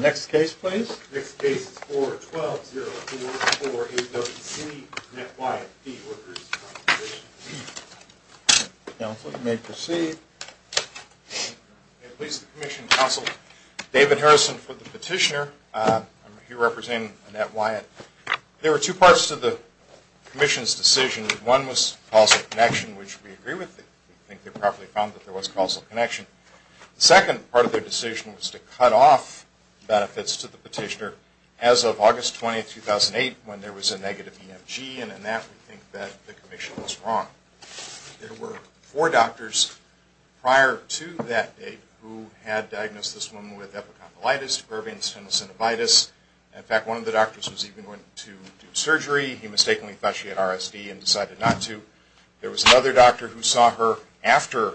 Next case please. Next case is 4-12-0-4-4-8-W-C, Annette Wyatt v. Workers' Compensation Comm'n. Counsel, you may proceed. At least the commission counseled David Harrison for the petitioner. He represented Annette Wyatt. There were two parts to the commission's decision. One was causal connection, which we agree with. We think they probably found that there was causal connection. The second part of their decision was to cut off benefits to the petitioner as of August 20, 2008, when there was a negative EMG, and Annette would think that the commission was wrong. There were four doctors prior to that date who had diagnosed this woman with epicondylitis, Irving's tendinocinivitis. In fact, one of the doctors was even going to do surgery. He mistakenly thought she had RSD and decided not to. There was another doctor who saw her after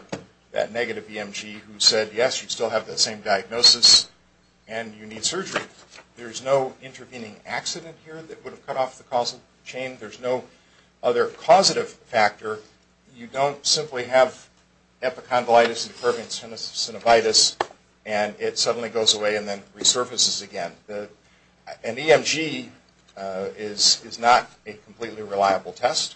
that negative EMG who said, yes, you still have that same diagnosis and you need surgery. There's no intervening accident here that would have cut off the causal chain. There's no other causative factor. You don't simply have epicondylitis and Irving's tendinocinivitis, and it suddenly goes away and then resurfaces again. An EMG is not a completely reliable test.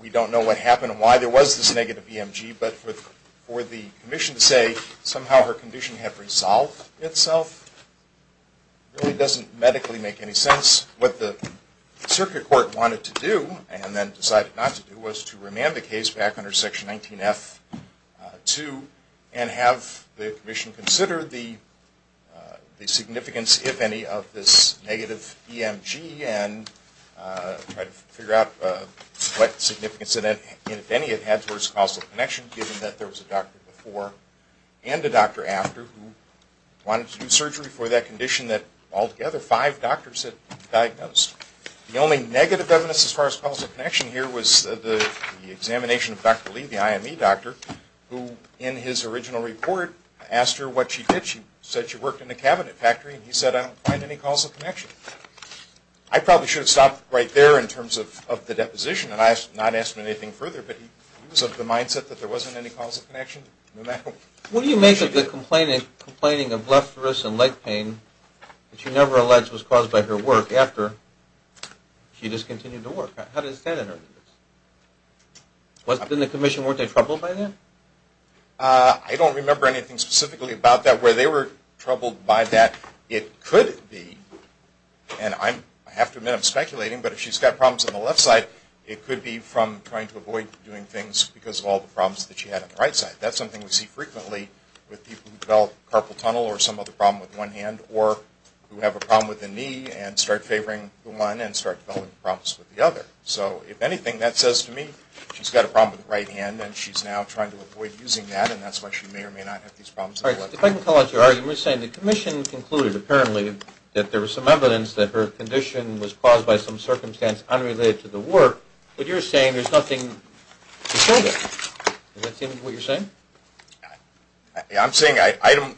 We don't know what happened and why there was this negative EMG, but for the commission to say somehow her condition had resolved itself really doesn't medically make any sense. What the circuit court wanted to do, and then decided not to do, was to remand the case back under Section 19F-2 and have the commission consider the significance, if any, of this negative EMG and try to figure out what significance, if any, it had towards causal connection, given that there was a doctor before and a doctor after who wanted to do surgery for that condition that altogether five doctors had diagnosed. The only negative evidence as far as causal connection here was the examination of Dr. Lee, the IME doctor, who in his original report asked her what she did. She said she worked in a cabinet factory, and he said, I don't find any causal connection. I probably should have stopped right there in terms of the deposition, and I have not asked him anything further, but he was of the mindset that there wasn't any causal connection. What do you make of the complaining of left wrist and leg pain that you never alleged was caused by her work after she discontinued the work? How does that enter into this? In the commission, weren't they troubled by that? I don't remember anything specifically about that. Where they were troubled by that, it could be, and I have to admit I'm speculating, but if she's got problems on the left side, it could be from trying to avoid doing things because of all the problems that she had on the right side. That's something we see frequently with people who develop carpal tunnel or some other problem with one hand or who have a problem with the knee and start favoring the one and start developing problems with the other. So if anything, that says to me she's got a problem with the right hand and she's now trying to avoid using that, and that's why she may or may not have these problems. If I can call out your argument saying the commission concluded apparently that there was some evidence that her condition was caused by some circumstance unrelated to the work, but you're saying there's nothing to show there. Does that seem to be what you're saying?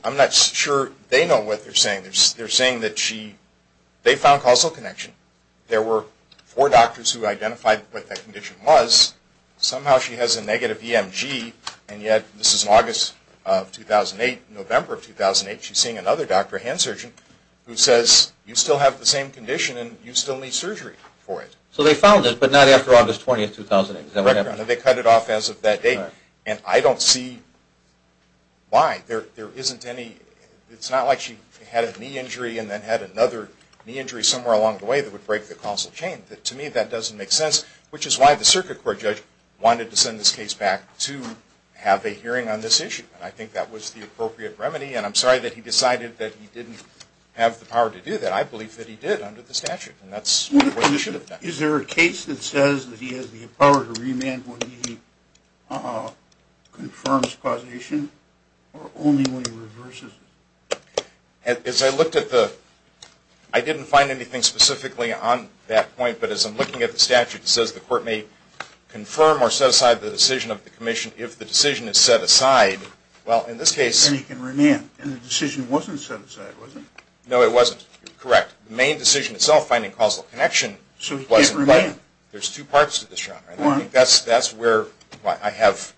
I'm not sure they know what they're saying. They're saying that they found causal connection. There were four doctors who identified what that condition was. Somehow she has a negative EMG, and yet this is August of 2008, November of 2008. She's seeing another doctor, a hand surgeon, who says you still have the same condition and you still need surgery for it. So they found it, but not after August 20, 2008. Correct. They cut it off as of that date. And I don't see why. There isn't any, it's not like she had a knee injury and then had another knee injury somewhere along the way that would break the causal chain. To me that doesn't make sense, which is why the circuit court judge wanted to send this case back to have a hearing on this issue, and I think that was the appropriate remedy. And I'm sorry that he decided that he didn't have the power to do that. I believe that he did under the statute, and that's the way it should have been. Is there a case that says that he has the power to remand when he confirms causation or only when he reverses it? As I looked at the, I didn't find anything specifically on that point, but as I'm looking at the statute, it says the court may confirm or set aside the decision of the commission if the decision is set aside. Well, in this case... Then he can remand, and the decision wasn't set aside, was it? No, it wasn't. Correct. The main decision itself, finding causal connection... So he can't remand. There's two parts to this, John. I think that's where I have...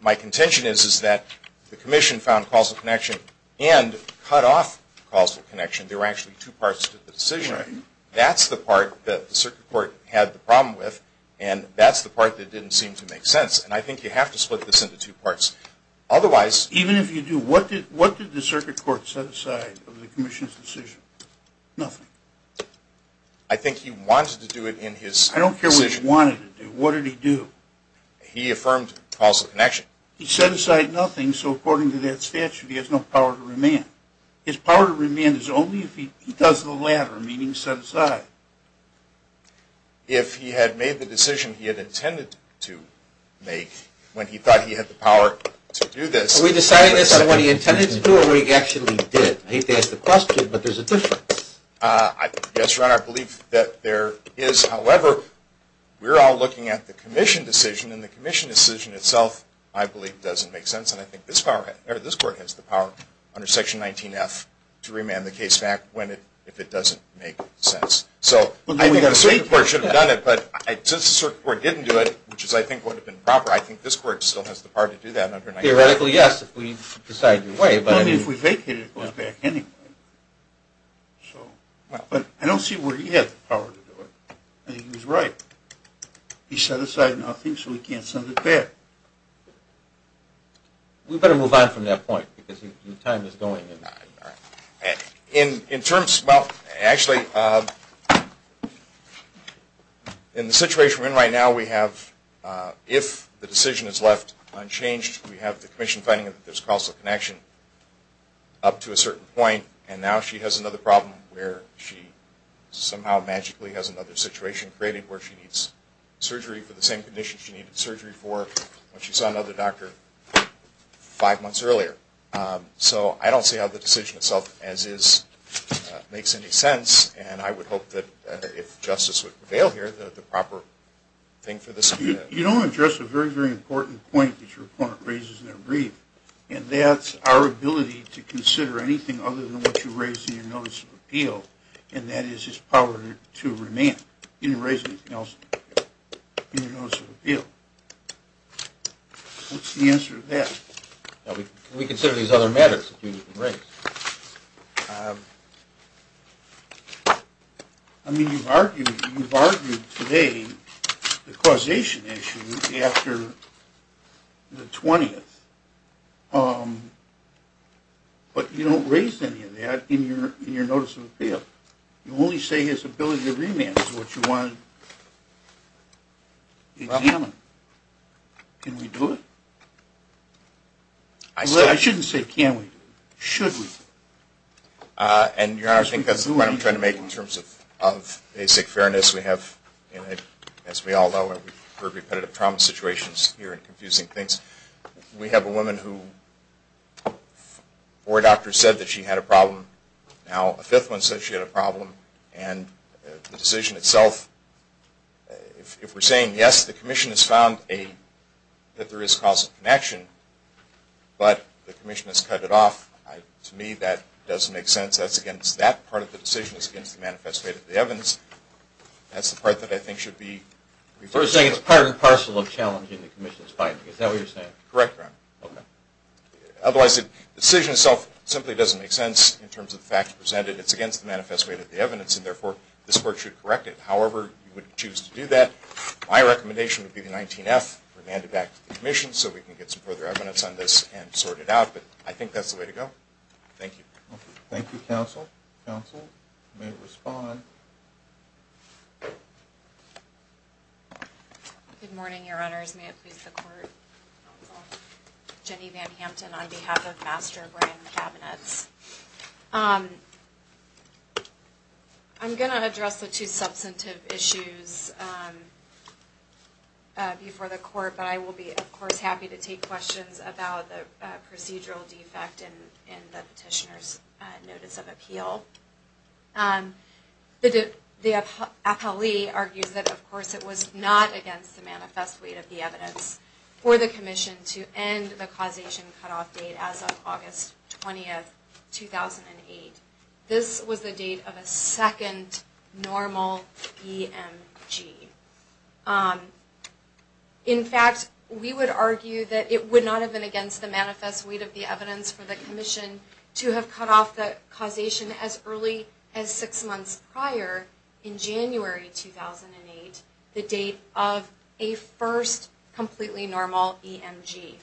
My contention is that the commission found causal connection and cut off causal connection. There were actually two parts to the decision. That's the part that the circuit court had the problem with, and that's the part that didn't seem to make sense. And I think you have to split this into two parts. Otherwise... Even if you do, what did the circuit court set aside of the commission's decision? Nothing. I think he wanted to do it in his decision. I don't care what he wanted to do. What did he do? He affirmed causal connection. He set aside nothing, so according to that statute, he has no power to remand. His power to remand is only if he does the latter, meaning set aside. If he had made the decision he had intended to make when he thought he had the power to do this... Are we deciding this on what he intended to do or what he actually did? I hate to ask the question, but there's a difference. Yes, Your Honor, I believe that there is. However, we're all looking at the commission decision, and the commission decision itself I believe doesn't make sense, and I think this court has the power under Section 19F to remand the case back if it doesn't make sense. So I think the circuit court should have done it, but since the circuit court didn't do it, which I think would have been proper, I think this court still has the power to do that under 19F. Theoretically, yes, if we decide to do it. But if we vacate it, it goes back anyway. But I don't see where he had the power to do it. I think he was right. He set aside nothing, so he can't send it back. We better move on from that point because your time is going. In terms, well, actually, in the situation we're in right now, we have, if the decision is left unchanged, we have the commission finding that there's a causal connection up to a certain point, and now she has another problem where she somehow magically has another situation created where she needs surgery for the same condition she needed surgery for when she saw another doctor five months earlier. So I don't see how the decision itself as is makes any sense, and I would hope that if justice would prevail here, the proper thing for this to be done. You don't address a very, very important point that your opponent raises in their brief, and that's our ability to consider anything other than what you raised in your notice of appeal, and that is his power to remand. You didn't raise anything else in your notice of appeal. What's the answer to that? We consider these other matters that you didn't raise. I mean, you've argued today the causation issue after the 20th, but you don't raise any of that in your notice of appeal. You only say his ability to remand is what you want to examine. Can we do it? I shouldn't say can we. Should we? And, Your Honor, I think that's the point I'm trying to make in terms of basic fairness. We have, as we all know, we've heard repetitive trauma situations here and confusing things. We have a woman who four doctors said that she had a problem. Now a fifth one said she had a problem, and the decision itself, if we're saying, yes, the commission has found that there is cause of connection, but the commission has cut it off, to me that doesn't make sense. That's against that part of the decision. It's against the manifest way of the evidence. That's the part that I think should be referred to. So you're saying it's part and parcel of challenging the commission's finding. Is that what you're saying? Correct, Your Honor. Otherwise, the decision itself simply doesn't make sense in terms of the facts presented. It's against the manifest way of the evidence, and, therefore, this Court should correct it. However you would choose to do that, my recommendation would be the 19-F, remand it back to the commission so we can get some further evidence on this and sort it out. But I think that's the way to go. Thank you. Thank you, counsel. Counsel, you may respond. Good morning, Your Honors. May it please the Court. Jenny Van Hampton on behalf of Master Brand Cabinets. I'm going to address the two substantive issues before the Court, but I will be, of course, happy to take questions about the procedural defect in the petitioner's notice of appeal. The appellee argues that, of course, it was not against the manifest way of the evidence for the commission to end the causation cutoff date as of August 20, 2008. This was the date of a second normal EMG. In fact, we would argue that it would not have been against the manifest way of the evidence for the commission to have cut off the causation as early as six months prior, in January 2008, the date of a first completely normal EMG.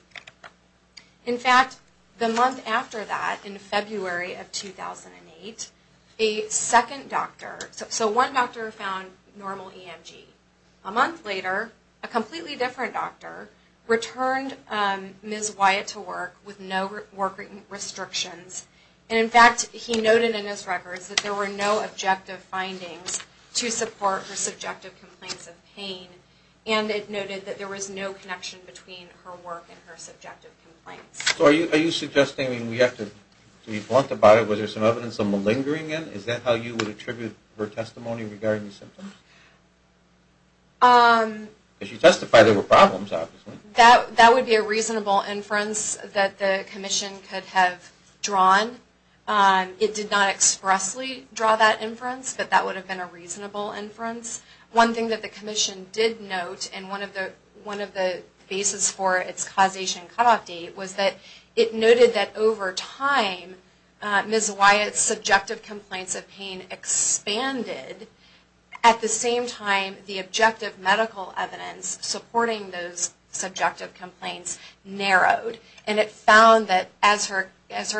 In fact, the month after that, in February of 2008, a second doctor, so one doctor found normal EMG. A month later, a completely different doctor returned Ms. Wyatt to work with no work restrictions. And in fact, he noted in his records that there were no objective findings to support her subjective complaints of pain. And it noted that there was no connection between her work and her subjective complaints. So are you suggesting we have to be blunt about it? Was there some evidence of malingering in it? Is that how you would attribute her testimony regarding the symptoms? If you testify there were problems, obviously. That would be a reasonable inference that the commission could have drawn. It did not expressly draw that inference, but that would have been a reasonable inference. One thing that the commission did note in one of the bases for its causation cutoff date was that it noted that over time Ms. Wyatt's subjective complaints of pain expanded at the same time the objective medical evidence supporting those subjective complaints narrowed. And it found that as her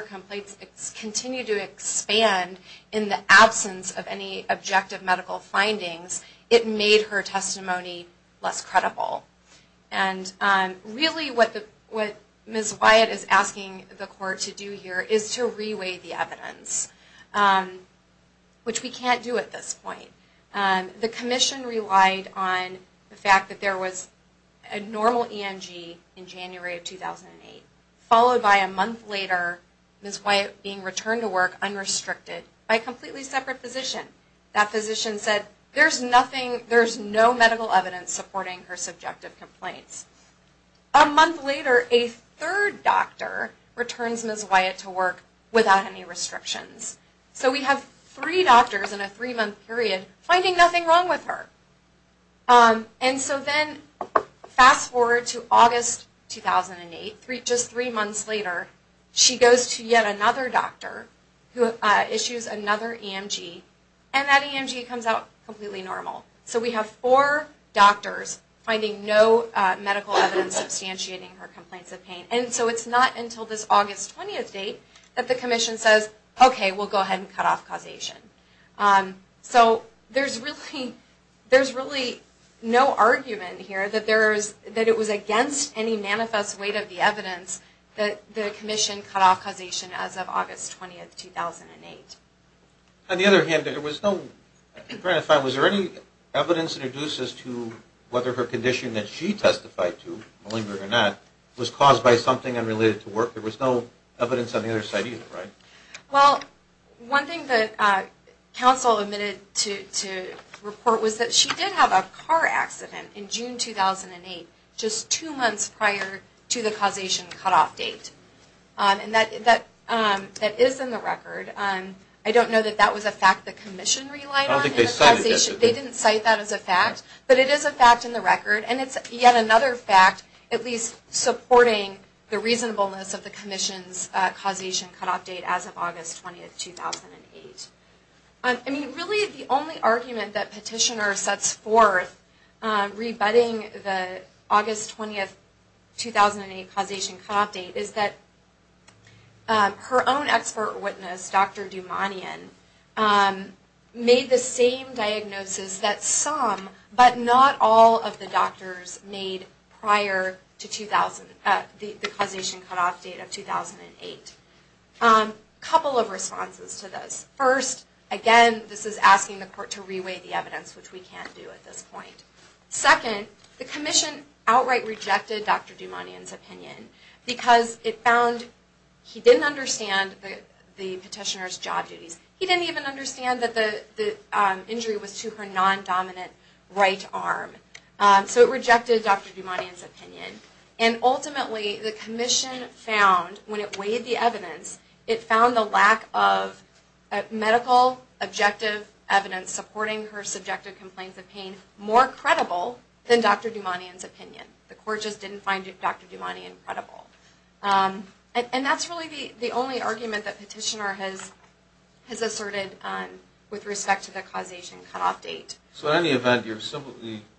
complaints continued to expand in the absence of any objective medical findings, it made her testimony less credible. And really what Ms. Wyatt is asking the court to do here is to re-weigh the evidence, which we can't do at this point. The commission relied on the fact that there was a normal EMG in January of 2008, followed by a month later Ms. Wyatt being returned to work unrestricted by a completely separate physician. That physician said there's no medical evidence supporting her subjective complaints. A month later a third doctor returns Ms. Wyatt to work without any restrictions. So we have three doctors in a three month period finding nothing wrong with her. And so then fast forward to August 2008, just three months later, she goes to yet another doctor who issues another EMG and that EMG comes out completely normal. So we have four doctors finding no medical evidence substantiating her complaints of pain. And so it's not until this August 20th date that the commission says, okay, we'll go ahead and cut off causation. So there's really no argument here that it was against any manifest weight of the evidence that the commission cut off causation as of August 20th, 2008. On the other hand, was there any evidence that reduces to whether her condition that she testified to, malignant or not, was caused by something unrelated to work? There was no evidence on the other side either, right? Well, one thing that counsel admitted to report was that she did have a car accident in June 2008, just two months prior to the causation cutoff date. And that is in the record. I don't know that that was a fact the commission relied on. They didn't cite that as a fact, but it is a fact in the record and it's yet another fact at least supporting the reasonableness of the commission's causation cutoff date as of August 20th, 2008. I mean, really the only argument that petitioner sets forth rebutting the August 20th, 2008 causation cutoff date is that her own expert witness, Dr. Dumanian, made the same diagnosis that some, but not all of the doctors made prior to the causation cutoff date of 2008. A couple of responses to this. First, again, this is asking the court to re-weigh the evidence, which we can't do at this point. Second, the commission outright rejected Dr. Dumanian's opinion because it found he didn't understand the petitioner's job duties. He didn't even understand that the injury was to her non-dominant right arm. So it rejected Dr. Dumanian's opinion and ultimately the commission found, when it weighed the evidence, it found the lack of medical objective evidence supporting her subjective complaints of pain more credible than Dr. Dumanian's opinion. The court just didn't find Dr. Dumanian credible. And that's really the only argument that petitioner has asserted with respect to the causation cutoff date. So in any event, your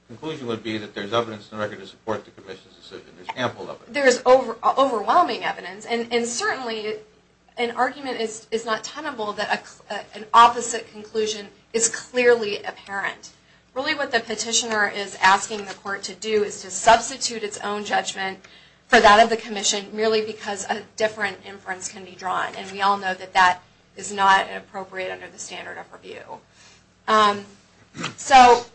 conclusion would be that there's evidence in the record to support the commission's decision. There's ample of it. There's overwhelming evidence and certainly an argument is not tenable that an opposite conclusion is clearly apparent. Really what the petitioner is asking the court to do is to substitute its own judgment for that of the commission, merely because a different inference can be drawn. And we all know that that is not appropriate under the standard of review. So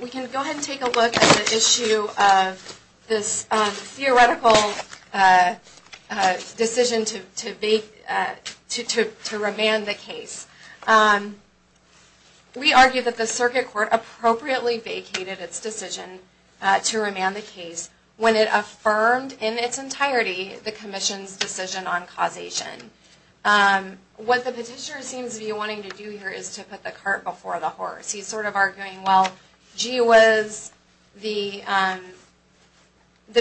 we can go ahead and take a look at the issue of this theoretical decision to remand the case. We argue that the circuit court appropriately vacated its decision to remand the case, when it affirmed in its entirety the commission's decision on causation. What the petitioner seems to be wanting to do here is to put the cart before the horse. He's sort of arguing, well, gee whiz, the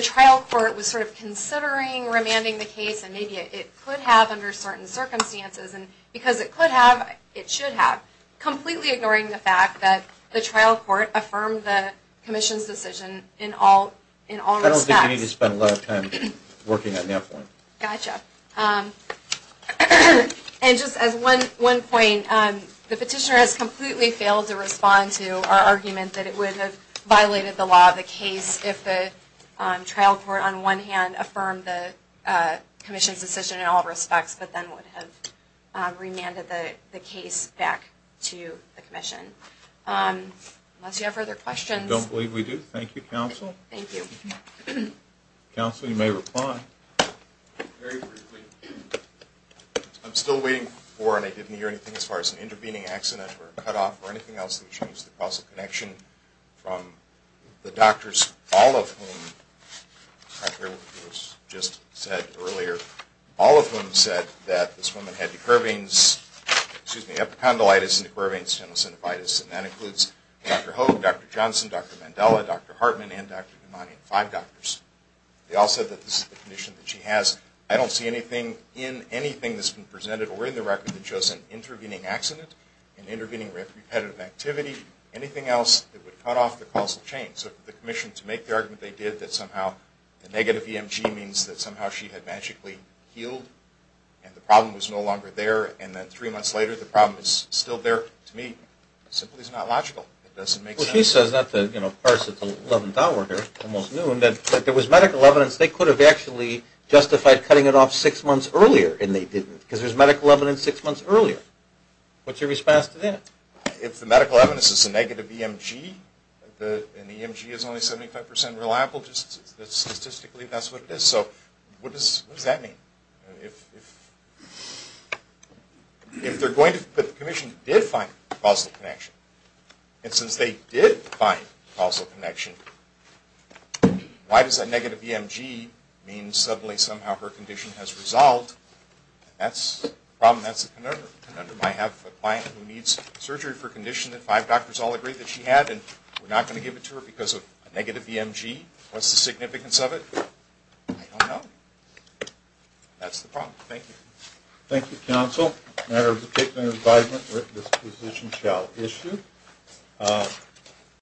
trial court was sort of considering remanding the case and maybe it could have under certain circumstances and because it could have, it should have, completely ignoring the fact that the trial court affirmed the commission's decision in all respects. I don't think you need to spend a lot of time working on that one. And just as one point, the petitioner has completely failed to respond to our argument that it would have violated the law of the case if the trial court on one hand affirmed the commission's decision in all respects, but then would have remanded the case back to the commission. Unless you have further questions. I don't believe we do. Thank you, counsel. Thank you. Counsel, you may reply. Very briefly, I'm still waiting for, and I didn't hear anything as far as an intervening accident or a cutoff or anything else that would change the causal connection from the doctors, all of whom, contrary to what was just said earlier, all of whom said that this woman had the curvings, excuse me, epicondylitis and the curvings, tenosynovitis, and that includes Dr. Hogue, Dr. Johnson, Dr. Mandela, Dr. Hartman, and Dr. Imani, five doctors. They all said that this is the condition that she has. I don't see anything in anything that's been presented or in the record that shows an intervening accident, an intervening repetitive activity, anything else that would cut off the causal chain. So for the commission to make the argument they did that somehow the negative EMG means that somehow she had magically healed and the problem was no longer there, and then three months later the problem is still there, to me, simply is not logical. It doesn't make sense. Well, she says, not to, you know, parse at the eleventh hour here, almost noon, that there was medical evidence they could have actually justified cutting it off six months earlier, and they didn't because there's medical evidence six months earlier. What's your response to that? If the medical evidence is a negative EMG and the EMG is only 75% reliable, just statistically that's what it is. So what does that mean? If the commission did find causal connection, and since they did find causal connection, why does that negative EMG mean suddenly somehow her condition has resolved? That's the problem. That's the conundrum. I have a client who needs surgery for a condition that five doctors all agree that she had, and we're not going to give it to her because of a negative EMG. What's the significance of it? I don't know. That's the problem. Thank you. Thank you, counsel. A matter of particular advisement, this position shall issue.